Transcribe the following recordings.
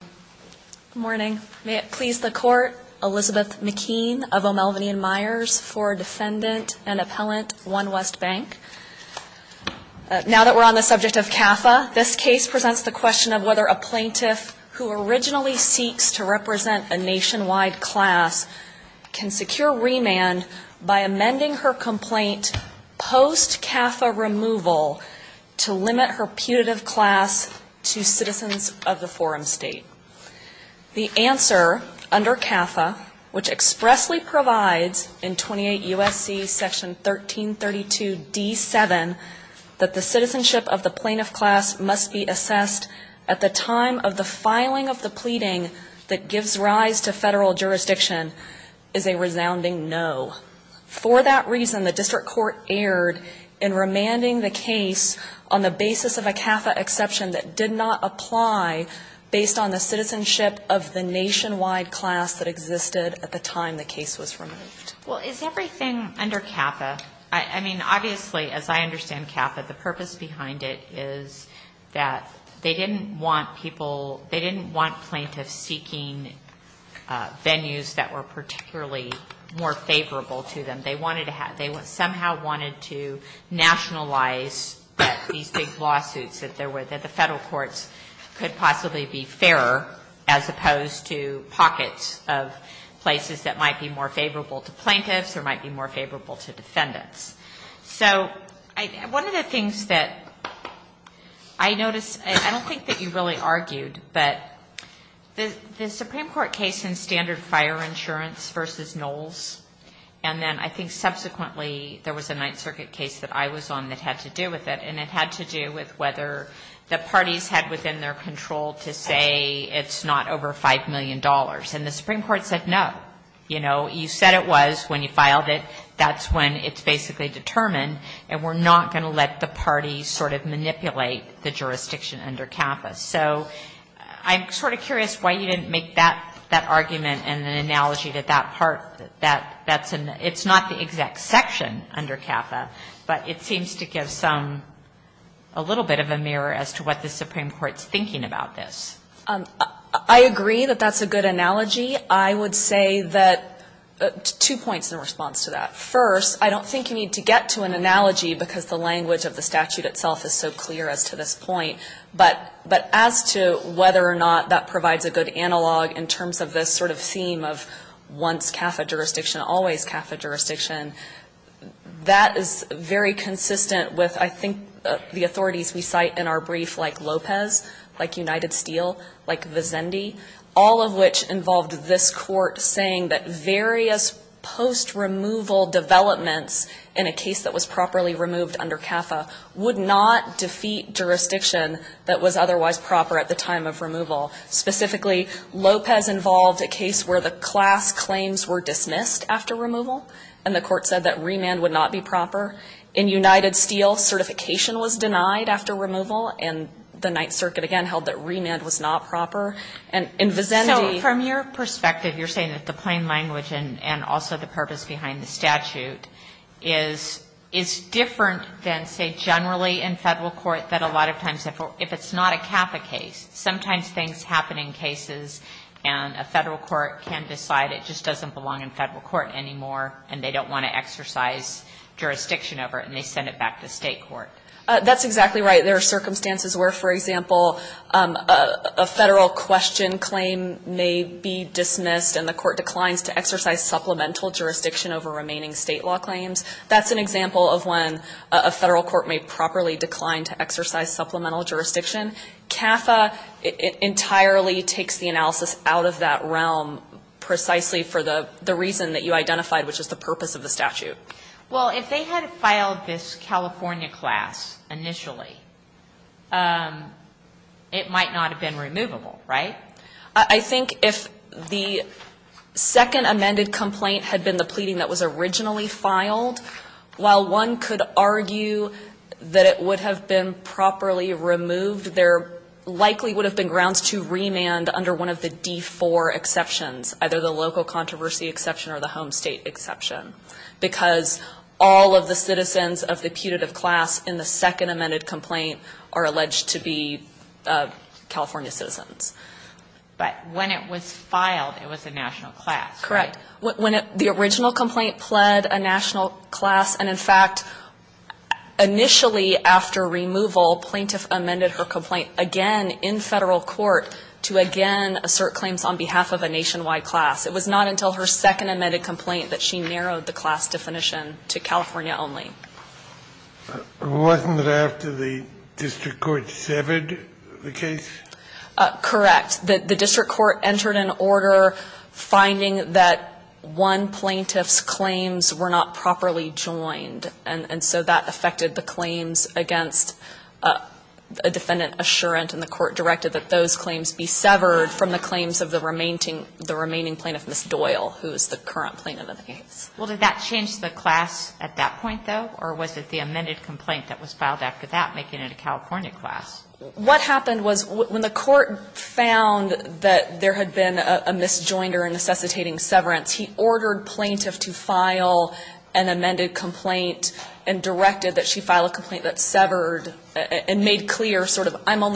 Good morning. May it please the Court, Elizabeth McKean of O'Melveny & Myers for Defendant and Appellant, OneWest Bank. Now that we're on the subject of CAFA, this case presents the question of whether a plaintiff who originally seeks to represent a nationwide class can secure remand by amending her complaint post-CAFA removal to limit her putative class to citizens of the forum state. The answer under CAFA, which expressly provides in 28 U.S.C. section 1332d7, that the citizenship of the plaintiff class must be assessed at the time of the filing of the pleading that gives rise to federal jurisdiction, is a resounding no. For that reason, the district court erred in remanding the case on the basis of a CAFA exception that did not apply based on the citizenship of the nationwide class that existed at the time the case was removed. Well, is everything under CAFA? I mean, obviously, as I understand CAFA, the purpose behind it is that they didn't want people they didn't want plaintiffs seeking venues that were particularly more favorable to them. They wanted to have they somehow wanted to nationalize that these big lawsuits that there were that the federal courts could possibly be fairer as opposed to pockets of places that might be more favorable to plaintiffs or might be more favorable to defendants. So one of the things that I noticed, I don't think that you really argued, but the Supreme Court case in standard fire insurance versus Knowles, and then I think subsequently there was a Ninth Circuit case that I was on that had to do with it, and it had to do with whether the parties had within their control to say it's not over $5 million. And the Supreme Court said no. You know, you said it was when you filed it, that's when it's basically determined, and we're not going to let the parties sort of manipulate the jurisdiction under CAFA. So I'm sort of curious why you didn't make that argument and an analogy that that part, that that's an it's not the exact section under CAFA, but it seems to give some a little bit of a mirror as to what the Supreme Court's thinking about this. I agree that that's a good analogy. I would say that two points in response to that. First, I don't think you need to get to an analogy because the language of the statute itself is so clear as to this point. But as to whether or not that provides a good analog in terms of this sort of theme of once CAFA jurisdiction, always CAFA jurisdiction, that is very consistent with I think the authorities we cite in our brief like Lopez, like United Steel, like Vizendi, all of which involved this Court saying that various post-removal developments in a case that was properly removed under CAFA would not defeat jurisdiction that was otherwise proper at the time of removal. Specifically, Lopez involved a case where the class claims were dismissed after removal, and the Court said that remand would not be proper. In United Steel, certification was denied after removal, and the Ninth Circuit again held that remand was not proper. And in Vizendi — So from your perspective, you're saying that the plain language and also the purpose behind the statute is different than, say, generally in Federal court, that a lot of times if it's not a CAFA case. Sometimes things happen in cases and a Federal court can decide it just doesn't belong in Federal court anymore, and they don't want to exercise jurisdiction over it, and they send it back to State court. That's exactly right. There are circumstances where, for example, a Federal question claim may be dismissed and the Court declines to exercise supplemental jurisdiction over remaining State law claims. That's an example of when a Federal court may properly decline to exercise supplemental jurisdiction. CAFA entirely takes the analysis out of that realm precisely for the reason that you identified, which is the purpose of the statute. Well, if they had filed this California class initially, it might not have been removable, right? I think if the second amended complaint had been the pleading that was originally filed, while one could argue that it would have been properly removed, there likely would have been grounds to remand under one of the D-4 exceptions, either the local or the State, because all of the citizens of the putative class in the second amended complaint are alleged to be California citizens. But when it was filed, it was a national class, right? Correct. When the original complaint pled a national class, and in fact, initially after removal, plaintiff amended her complaint again in Federal court to again assert claims on behalf of a nationwide class. It was not until her second amended complaint that she narrowed the class definition to California only. Wasn't it after the district court severed the case? Correct. The district court entered an order finding that one plaintiff's claims were not properly joined, and so that affected the claims against a defendant assurant, and the court directed that those claims be severed from the claims of the remaining plaintiff, Ms. Doyle, who is the current plaintiff of the case. Well, did that change the class at that point, though, or was it the amended complaint that was filed after that, making it a California class? What happened was when the court found that there had been a misjoinder in necessitating severance, he ordered plaintiff to file an amended complaint and directed that she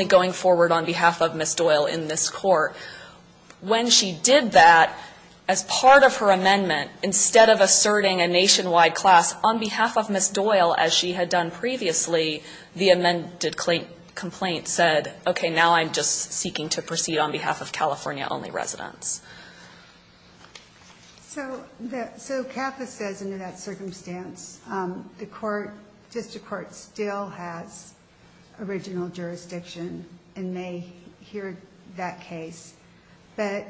go forward on behalf of Ms. Doyle in this court. When she did that, as part of her amendment, instead of asserting a nationwide class on behalf of Ms. Doyle, as she had done previously, the amended complaint said, okay, now I'm just seeking to proceed on behalf of California-only residents. So CAFA says under that circumstance, the court, district court, still has original jurisdiction and may hear that case, but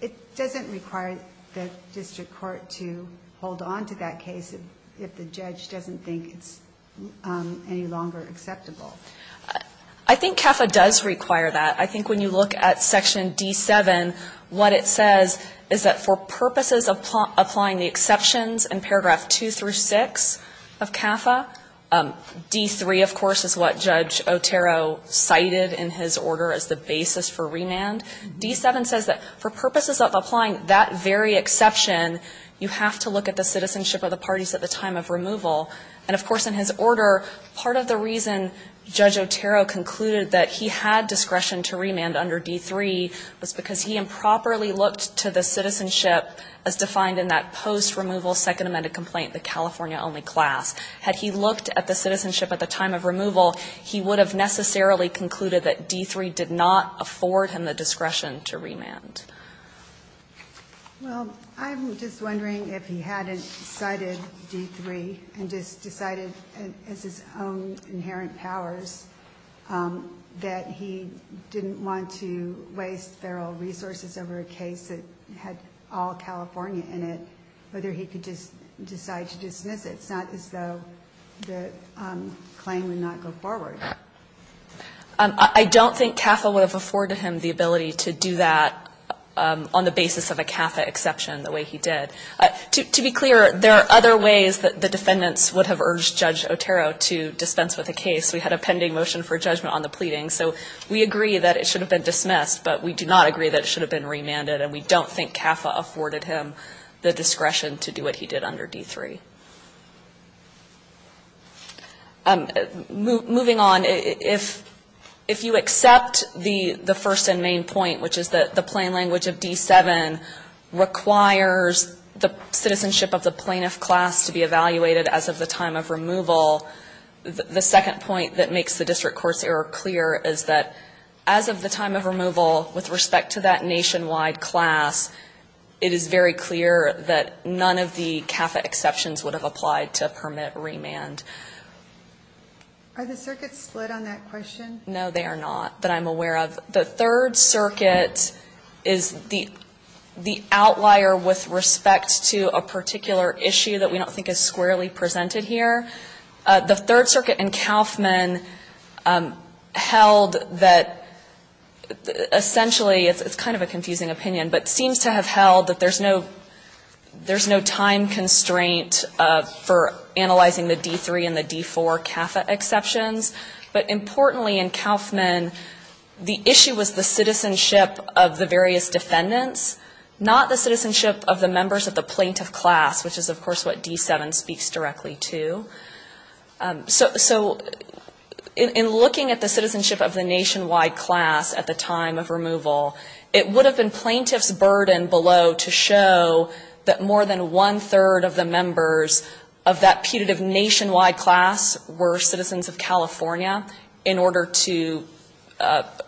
it doesn't require the district court to hold on to that case if the judge doesn't think it's any longer acceptable. I think CAFA does require that. I think when you look at Section D7, what it says is that for purposes of applying the exceptions in paragraph 2 through 6 of CAFA, D3, of course, is what Judge Otero cited in his order as the basis for remand. D7 says that for purposes of applying that very exception, you have to look at the citizenship of the parties at the time of removal. And, of course, in his order, part of the reason Judge Otero concluded that he had discretion to remand under D3 was because he improperly looked to the citizenship as defined in that post-removal second amended complaint, the California-only class. Had he looked at the citizenship at the time of removal, he would have necessarily concluded that D3 did not afford him the discretion to remand. Well, I'm just wondering if he hadn't cited D3 and just decided as his own inherent powers that he didn't want to waste feral resources over a case that had all California in it, whether he could just decide to dismiss it. It's not as though the claim would not go forward. I don't think CAFA would have afforded him the ability to do that on the basis of a CAFA exception the way he did. To be clear, there are other ways that the defendants would have urged Judge Otero to dispense with a case. We had a pending motion for judgment on the pleading. So we agree that it should have been dismissed, but we do not agree that it should have been remanded, and we don't think CAFA afforded him the discretion to do what he did under D3. Moving on, if you accept the first and main point, which is that the plain language of D7 requires the citizenship of the plaintiff class to be evaluated as of the time of removal, the second point that makes the district court's error clear is that as of the time of removal, with respect to that nationwide class, it is very clear that none of the CAFA exceptions would have applied to permit remand. Are the circuits split on that question? No, they are not, that I'm aware of. The Third Circuit is the outlier with respect to a particular issue that we don't think is squarely presented here. The Third Circuit in Kauffman held that essentially, it's kind of a confusing opinion, but seems to have held that there's no time constraint for analyzing the D3 and the D4 CAFA exceptions. But importantly in Kauffman, the issue was the citizenship of the various defendants, not the citizenship of the members of the plaintiff class, which is of course what D7 speaks directly to. So in looking at the citizenship of the nationwide class at the time of removal, it would have been plaintiff's burden below to show that more than one-third of the members of that putative nationwide class were citizens of California in order to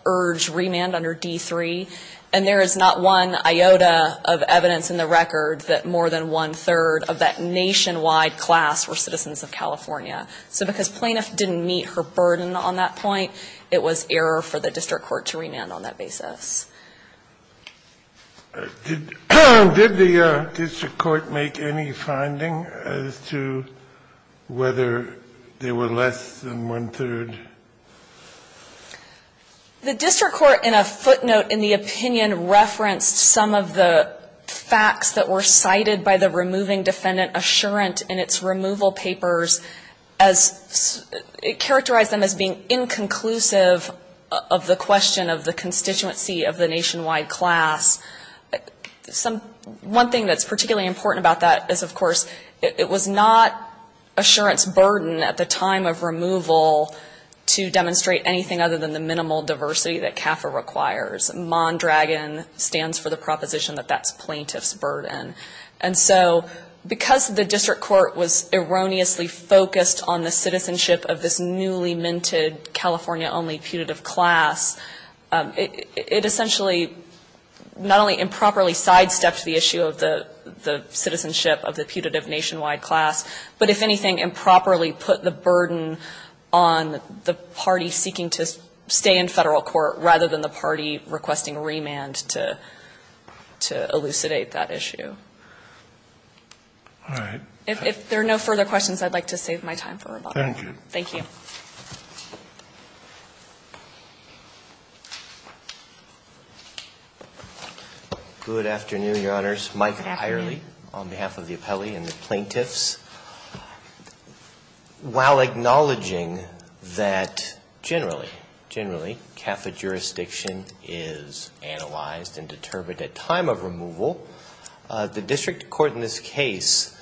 urge remand under D3. And there is not one iota of evidence in the record that more than one-third of that nationwide class were citizens of California. So because plaintiff didn't meet her burden on that point, it was error for the district court to remand on that basis. Did the district court make any finding as to whether there were less than one-third? The district court in a footnote in the opinion referenced some of the facts that were cited by the removing defendant assurant in its removal papers as it characterized them as being inconclusive of the question of the constituency of the nationwide class. One thing that's particularly important about that is, of course, it was not assurant's anything other than the minimal diversity that CAFA requires. Mondragon stands for the proposition that that's plaintiff's burden. And so because the district court was erroneously focused on the citizenship of this newly minted California-only putative class, it essentially not only improperly sidestepped the issue of the citizenship of the putative nationwide class, but if anything, improperly put the burden on the party seeking to stay in Federal court rather than the party requesting remand to elucidate that issue. All right. If there are no further questions, I'd like to save my time for rebuttal. Thank you. Good afternoon, Your Honors. Good afternoon. On behalf of the appellee and the plaintiffs, while acknowledging that generally, generally, CAFA jurisdiction is analyzed and determined at time of removal, the district court in this case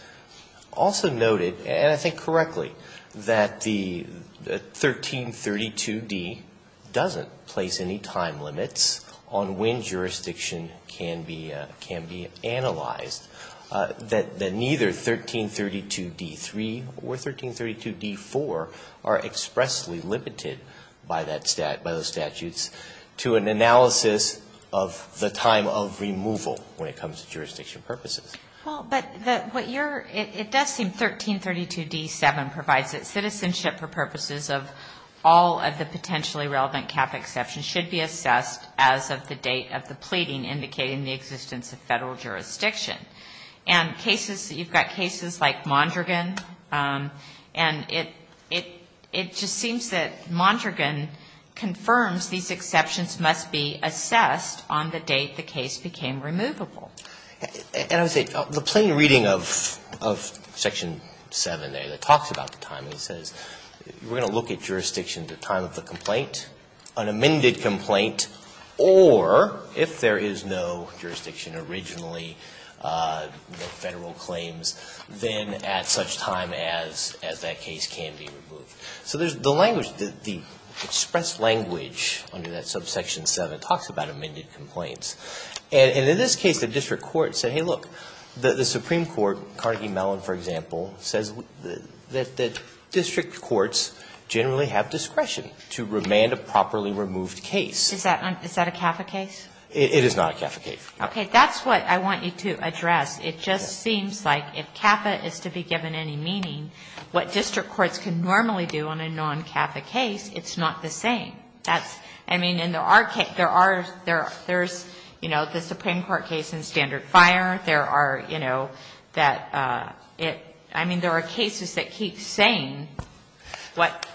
also noted, and I think correctly, that the 1332D doesn't place any time limits on when jurisdiction can be analyzed, that neither 1332D-3 or 1332D-4 are expressly limited by that statute, by those statutes, to an analysis of the time of removal when it comes to jurisdiction purposes. Well, but what you're, it does seem 1332D-7 provides that citizenship for purposes of all of the potentially relevant CAFA exceptions should be assessed as of the date of the pleading indicating the existence of Federal jurisdiction. And cases, you've got cases like Mondragon, and it just seems that Mondragon confirms these exceptions must be assessed on the date the case became removable. And I would say, the plain reading of Section 7 there that talks about the timing says we're going to look at jurisdiction at the time of the complaint, an amended complaint, or if there is no jurisdiction originally, no Federal claims, then at such time as that case can be removed. So there's the language, the expressed language under that subsection 7 talks about amended complaints. And in this case, the district court said, hey, look, the Supreme Court, Carnegie Mellon, for example, says that district courts generally have discretion to remand a properly removed case. Is that a CAFA case? It is not a CAFA case. Okay. That's what I want you to address. It just seems like if CAFA is to be given any meaning, what district courts can normally do on a non-CAFA case, it's not the same. That's, I mean, and there are, there's, you know, the Supreme Court case in Standard Fire. There are, you know, that it, I mean, there are cases that keep saying what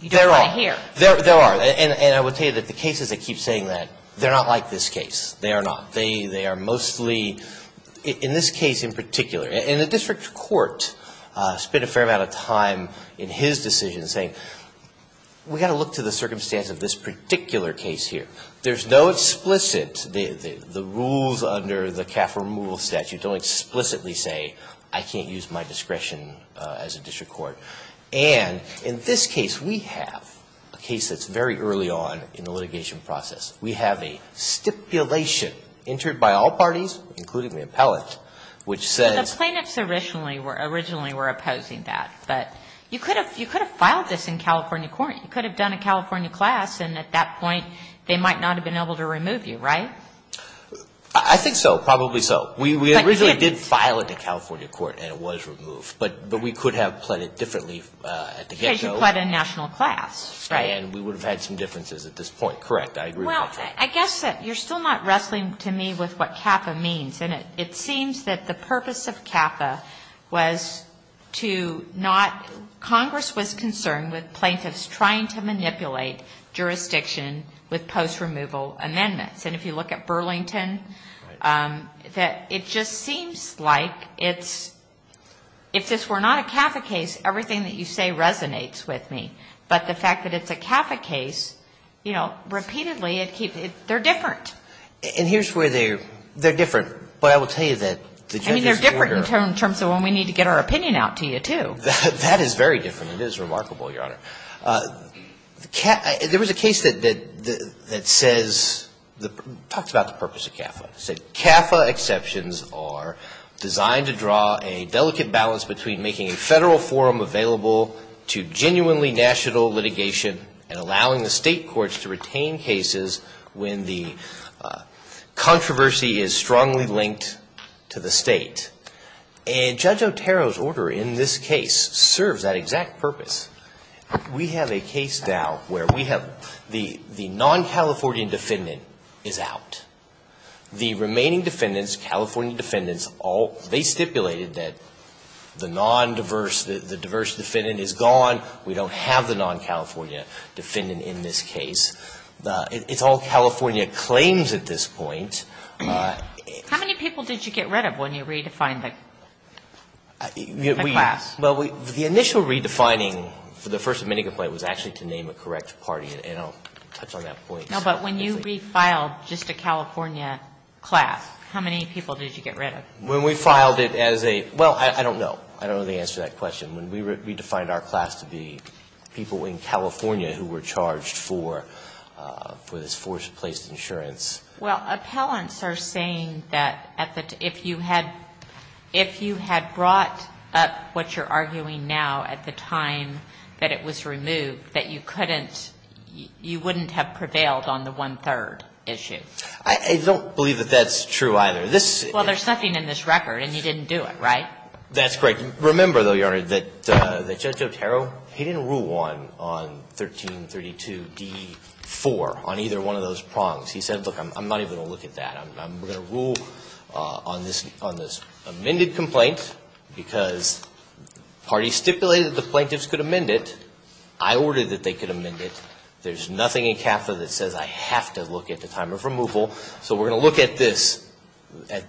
you don't want to hear. There are. And I will tell you that the cases that keep saying that, they're not like this case. They are not. They are mostly, in this case in particular. And the district court spent a fair amount of time in his decision saying, we've got to look to the circumstance of this particular case here. There's no explicit, the rules under the CAFA removal statute don't explicitly say, I can't use my discretion as a district court. And in this case, we have a case that's very early on in the litigation process. We have a stipulation entered by all parties, including the appellate, which says. But the plaintiffs originally were opposing that. But you could have, you could have filed this in California court. You could have done a California class. And at that point, they might not have been able to remove you, right? I think so. Probably so. We originally did file it to California court and it was removed. But we could have pled it differently at the get go. Because you pled a national class, right? And we would have had some differences at this point. Correct. I agree with that. Well, I guess that you're still not wrestling to me with what CAFA means. And it seems that the purpose of CAFA was to not, Congress was concerned with plaintiffs trying to manipulate jurisdiction with post removal amendments. And if you look at Burlington, that it just seems like it's, if this were not a CAFA case, everything that you say resonates with me. But the fact that it's a CAFA case, you know, repeatedly, they're different. And here's where they're, they're different. But I will tell you that the judges I mean, they're different in terms of when we need to get our opinion out to you, too. That is very different. It is remarkable, Your Honor. There was a case that says, talked about the purpose of CAFA. It said, CAFA exceptions are designed to draw a delicate balance between making a federal forum available to genuinely national litigation and allowing the state courts to retain cases when the controversy is strongly linked to the state. And Judge Otero's order in this case serves that exact purpose. We have a case now where we have the non-Californian defendant is out. The remaining defendants, California defendants, they stipulated that the non-diverse, the diverse defendant is gone. We don't have the non-California defendant in this case. It's all California claims at this point. How many people did you get rid of when you redefined the class? Well, the initial redefining for the First Amendment complaint was actually to name a correct party. And I'll touch on that point. No, but when you refiled just a California class, how many people did you get rid of? When we filed it as a, well, I don't know. I don't know the answer to that question. When we redefined our class to be people in California who were charged for this forced place insurance. Well, appellants are saying that if you had brought up what you're arguing now at the time that it was removed, that you couldn't, you wouldn't have prevailed on the one-third issue. I don't believe that that's true either. Well, there's nothing in this record, and you didn't do it, right? That's correct. Remember, though, Your Honor, that Judge Otero, he didn't rule on 1332d-4 on either one of those prongs. He said, look, I'm not even going to look at that. We're going to rule on this amended complaint because parties stipulated that the plaintiffs could amend it. I ordered that they could amend it. There's nothing in CAFA that says I have to look at the time of removal. So we're going to look at this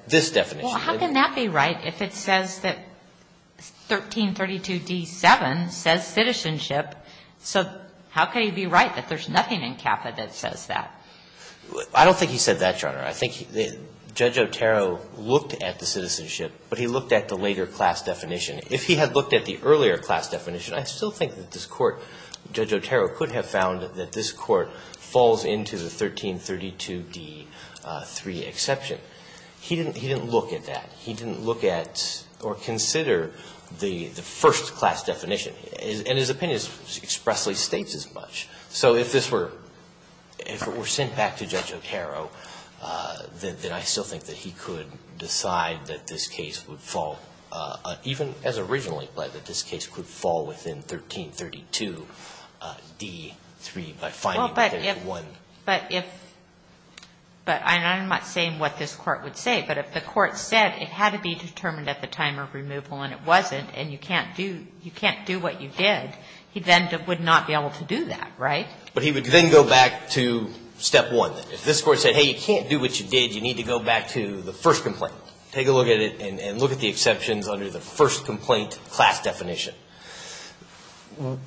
definition. Well, how can that be right if it says that 1332d-7 says citizenship? So how can he be right that there's nothing in CAFA that says that? I don't think he said that, Your Honor. I think Judge Otero looked at the citizenship, but he looked at the later class definition. If he had looked at the earlier class definition, I still think that this Court, Judge Otero, could have found that this Court falls into the 1332d-3 exception. He didn't look at that. He didn't look at or consider the first class definition. And his opinion expressly states as much. So if this were sent back to Judge Otero, then I still think that he could decide that this case would fall, even as originally pled, that this case could fall within 1332d-3 by finding that there's one. But if, and I'm not saying what this Court would say, but if the Court said it had to be determined at the time of removal and it wasn't and you can't do what you did, he then would not be able to do that, right? But he would then go back to step one. If this Court said, hey, you can't do what you did. You need to go back to the first complaint. Take a look at it and look at the exceptions under the first complaint class definition.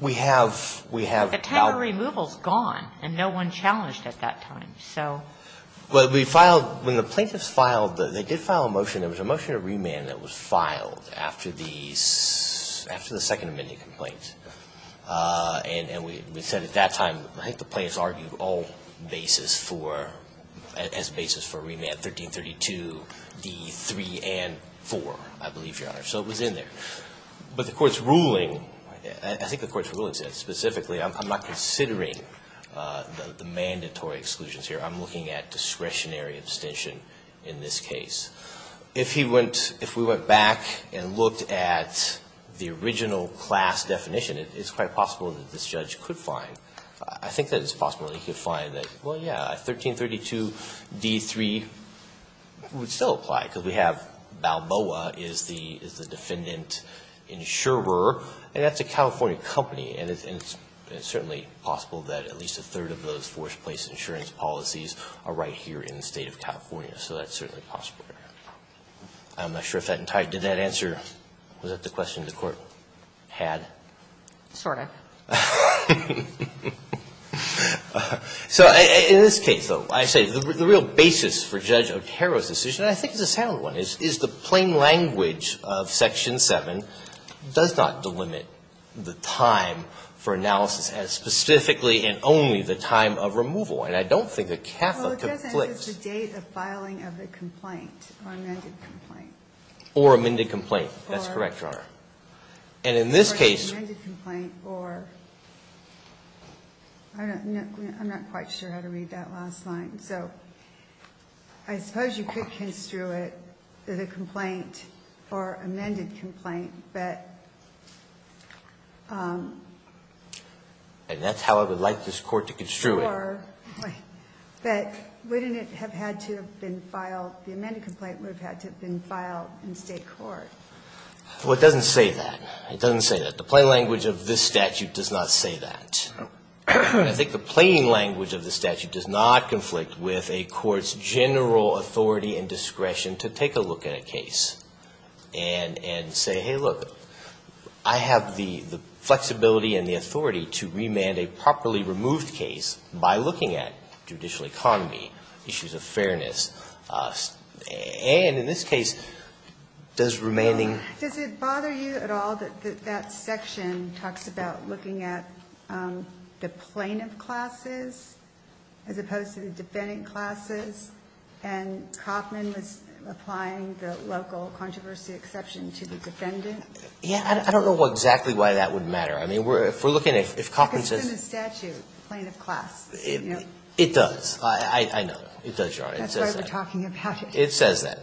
We have, we have. The time of removal is gone and no one challenged at that time. So. But we filed, when the plaintiffs filed, they did file a motion. There was a motion to remand that was filed after the, after the Second Amendment complaint. And we said at that time, I think the plaintiffs argued all basis for, as basis for remand, 1332d-3 and 4, I believe, Your Honor. So it was in there. But the Court's ruling, I think the Court's ruling said specifically, I'm not considering the mandatory exclusions here. I'm looking at discretionary abstention in this case. If he went, if we went back and looked at the original class definition, it's quite possible that this judge could find, I think that it's possible that he could find that, well, yeah, 1332d-3 would still apply because we have Balboa is the, is the defendant insurer. And that's a California company. And it's certainly possible that at least a third of those forced place insurance policies are right here in the State of California. So that's certainly possible. I'm not sure if that entire, did that answer, was that the question the Court had? Sort of. So in this case, though, I say the real basis for Judge Otero's decision, I think, is the sound one, is the plain language of Section 7 does not delimit the time for analysis as specifically and only the time of removal. And I don't think a CAFA could flip. Well, it does enter the date of filing of the complaint or amended complaint. Or amended complaint. That's correct, Your Honor. Or. And in this case. Or an amended complaint or, I'm not quite sure how to read that last line. So I suppose you could construe it as a complaint or amended complaint, but. And that's how I would like this Court to construe it. Or, but wouldn't it have had to have been filed, the amended complaint would have had to have been filed in State court. Well, it doesn't say that. It doesn't say that. The plain language of this statute does not say that. I think the plain language of the statute does not conflict with a court's general authority and discretion to take a look at a case and say, hey, look, I have the flexibility and the authority to remand a properly removed case by looking at judicial economy, issues of fairness. And in this case, does remanding. Does it bother you at all that that section talks about looking at the plaintiff classes as opposed to the defendant classes? And Kauffman was applying the local controversy exception to the defendant. Yeah, I don't know exactly why that would matter. I mean, if we're looking at. If Kauffman says. It's in the statute, plaintiff class. It does. I know. It does, Your Honor. That's why we're talking about it. It says that.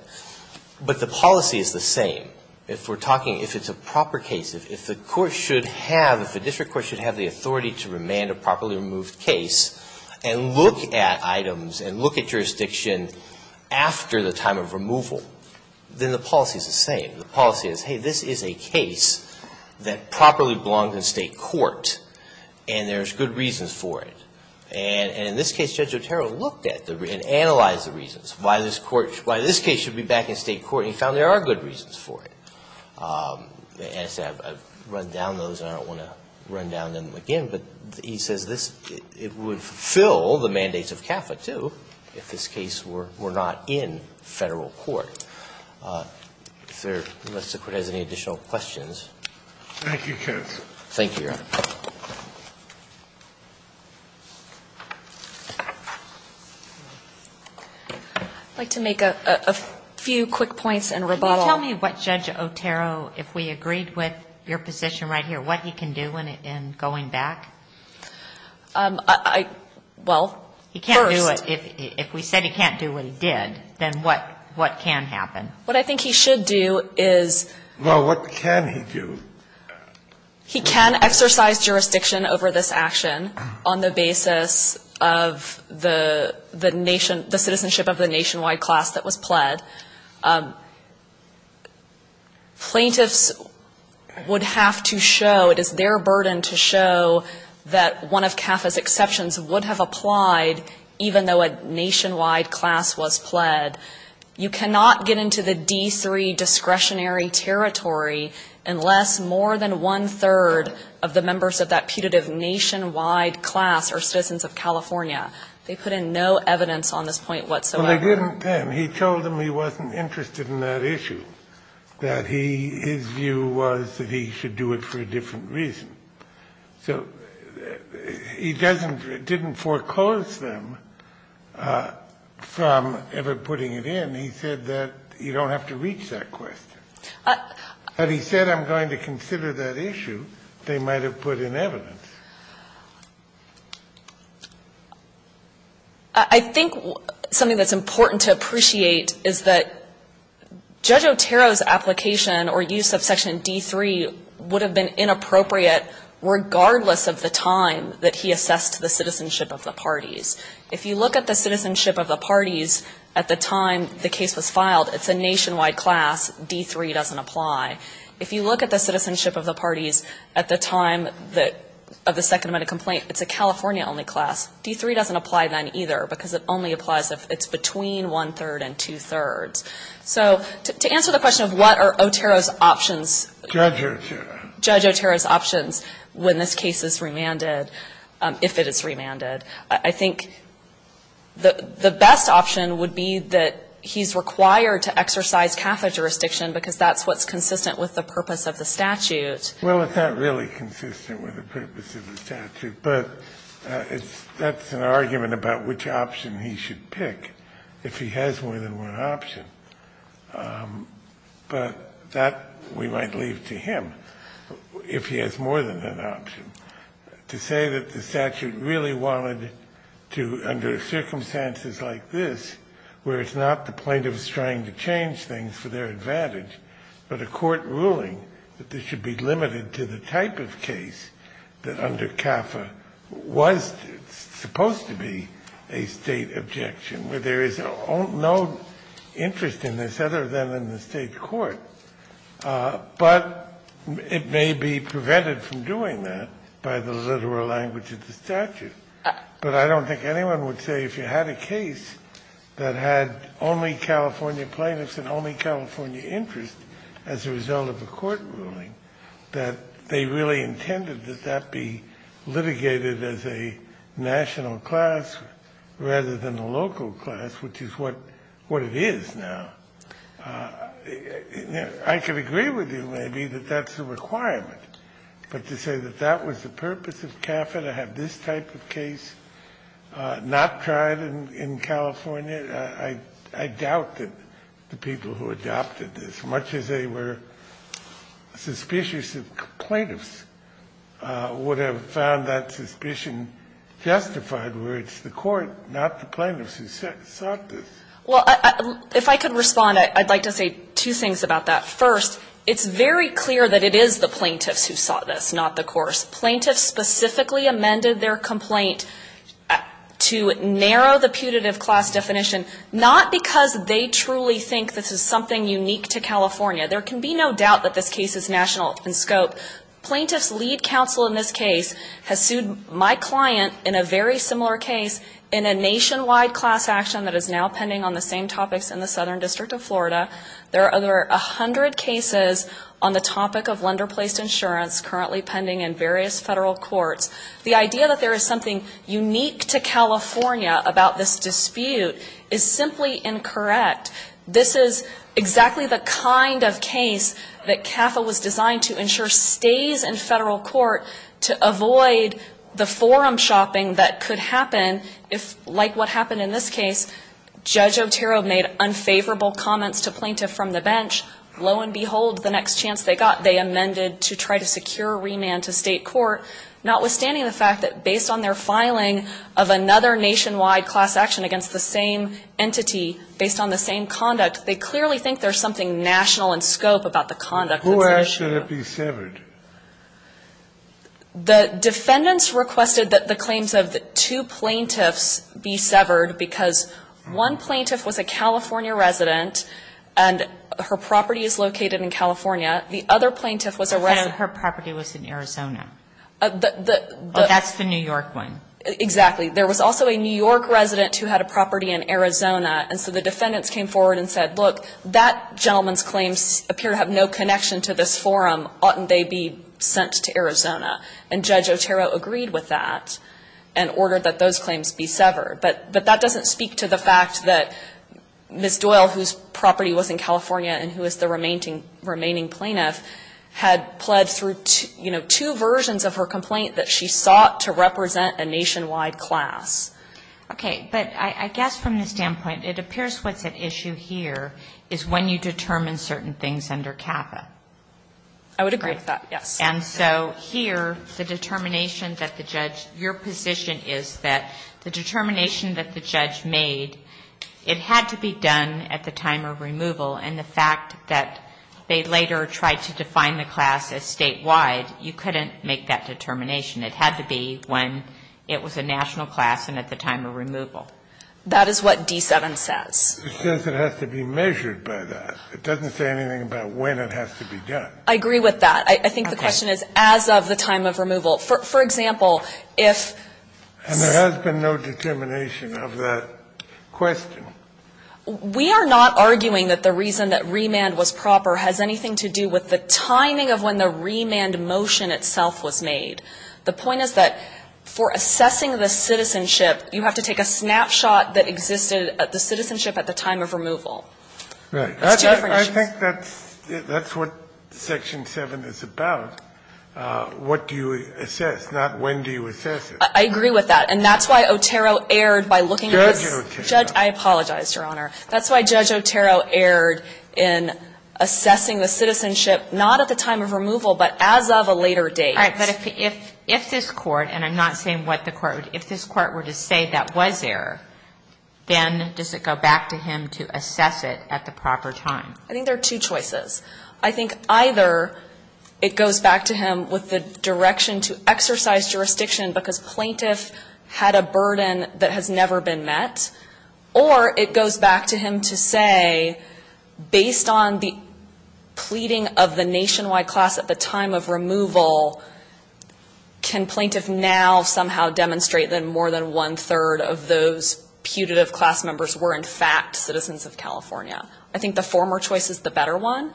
But the policy is the same. If we're talking. If it's a proper case. If the court should have. If the district court should have the authority to remand a properly removed case and look at items and look at jurisdiction after the time of removal, then the policy is the same. The policy is, hey, this is a case that properly belongs in State court, and there's good reasons for it. And in this case, Judge Otero looked at and analyzed the reasons. Why this court. Why this case should be back in State court, and he found there are good reasons for it. And he said, I've run down those, and I don't want to run down them again. But he says this. It would fulfill the mandates of CAFA, too, if this case were not in Federal court. If there. Thank you, Judge. Thank you, Your Honor. I'd like to make a few quick points and rebuttal. Can you tell me what Judge Otero, if we agreed with your position right here, what he can do in going back? I, well, first. He can't do it. If we said he can't do what he did, then what can happen? What I think he should do is. Well, what can he do? He can exercise jurisdiction over this action on the basis of the nation, the citizenship of the nationwide class that was pled. Plaintiffs would have to show, it is their burden to show that one of CAFA's exceptions would have applied even though a nationwide class was pled. You cannot get into the D3 discretionary territory unless more than one-third of the members of that putative nationwide class are citizens of California. They put in no evidence on this point whatsoever. Well, they didn't then. He told them he wasn't interested in that issue, that he, his view was that he should do it for a different reason. So he doesn't, didn't foreclose them from ever putting it in. He said that you don't have to reach that question. But he said I'm going to consider that issue. They might have put in evidence. I think something that's important to appreciate is that Judge Otero's application or use of Section D3 would have been inappropriate regardless of the time that he assessed the citizenship of the parties. If you look at the citizenship of the parties at the time the case was filed, it's a nationwide class. D3 doesn't apply. If you look at the citizenship of the parties at the time of the second amendment complaint, it's a California-only class. D3 doesn't apply then either because it only applies if it's between one-third and two-thirds. So to answer the question of what are Otero's options. Scalia. Judge Otero's options when this case is remanded, if it is remanded. I think the best option would be that he's required to exercise Catholic jurisdiction because that's what's consistent with the purpose of the statute. Well, it's not really consistent with the purpose of the statute, but that's an argument about which option he should pick if he has more than one option. But that we might leave to him if he has more than one option. To say that the statute really wanted to, under circumstances like this, where it's not the plaintiffs trying to change things for their advantage, but a court ruling that this should be limited to the type of case that under CAFA was supposed to be a State objection, where there is no interest in this other than in the State court, but it may be prevented from doing that by the literal language of the statute. But I don't think anyone would say if you had a case that had only California court ruling that they really intended that that be litigated as a national class rather than a local class, which is what it is now. I could agree with you maybe that that's a requirement, but to say that that was the purpose of CAFA to have this type of case not tried in California, I doubt that the suspicious plaintiffs would have found that suspicion justified where it's the court, not the plaintiffs who sought this. Well, if I could respond, I'd like to say two things about that. First, it's very clear that it is the plaintiffs who sought this, not the courts. Plaintiffs specifically amended their complaint to narrow the putative class definition not because they truly think this is something unique to California. There can be no doubt that this case is national in scope. Plaintiffs' lead counsel in this case has sued my client in a very similar case in a nationwide class action that is now pending on the same topics in the Southern District of Florida. There are over 100 cases on the topic of lender-placed insurance currently pending in various Federal courts. The idea that there is something unique to California about this dispute is simply incorrect. This is exactly the kind of case that CAFA was designed to ensure stays in Federal court to avoid the forum shopping that could happen if, like what happened in this case, Judge Otero made unfavorable comments to plaintiff from the bench. Lo and behold, the next chance they got, they amended to try to secure remand to state court, notwithstanding the fact that based on their filing of another nationwide class action against the same entity, based on the same conduct, they clearly think there is something national in scope about the conduct. It's not national. The defendants requested that the claims of the two plaintiffs be severed because one plaintiff was a California resident and her property is located in California. The other plaintiff was a resident. But her property was in Arizona. That's the New York one. Exactly. There was also a New York resident who had a property in Arizona. And so the defendants came forward and said, look, that gentleman's claims appear to have no connection to this forum. Oughtn't they be sent to Arizona? And Judge Otero agreed with that and ordered that those claims be severed. But that doesn't speak to the fact that Ms. Doyle, whose property was in California and who is the remaining plaintiff, had pled through two versions of her complaint that she sought to represent a nationwide class. Okay. But I guess from the standpoint, it appears what's at issue here is when you determine certain things under CAFA. I would agree with that, yes. And so here, the determination that the judge, your position is that the determination that the judge made, it had to be done at the time of removal. And the fact that they later tried to define the class as statewide, you couldn't make that determination. It had to be when it was a national class and at the time of removal. That is what D-7 says. It says it has to be measured by that. It doesn't say anything about when it has to be done. I agree with that. Okay. I think the question is as of the time of removal. For example, if this ---- And there has been no determination of that question. We are not arguing that the reason that remand was proper has anything to do with the timing of when the remand motion itself was made. The point is that for assessing the citizenship, you have to take a snapshot that existed at the citizenship at the time of removal. It's two different issues. I think that's what Section 7 is about. What do you assess, not when do you assess it. I agree with that. And that's why Otero erred by looking at this. Judge Otero. I apologize, Your Honor. That's why Judge Otero erred in assessing the citizenship not at the time of removal but as of a later date. All right. But if this Court, and I'm not saying what the Court would, if this Court were to say that was there, then does it go back to him to assess it at the proper time? I think there are two choices. I think either it goes back to him with the direction to exercise jurisdiction because plaintiff had a burden that has never been met, or it goes back to him to say, based on the pleading of the nationwide class at the time of removal, can plaintiff now somehow demonstrate that more than one-third of those putative class members were, in fact, citizens of California. I think the former choice is the better one,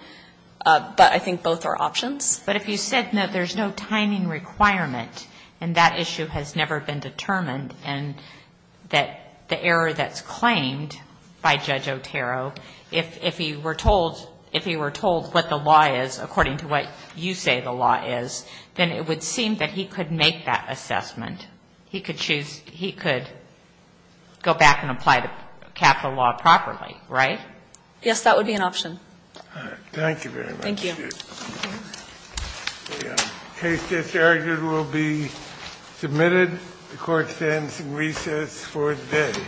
but I think both are options. But if you said, no, there's no timing requirement, and that issue has never been determined, and that the error that's claimed by Judge Otero, if he were told what the law is, according to what you say the law is, then it would seem that he could make that assessment. He could choose, he could go back and apply the capital law properly, right? Yes, that would be an option. All right. Thank you very much. Thank you. The case that's erred will be submitted. The Court stands in recess for the day.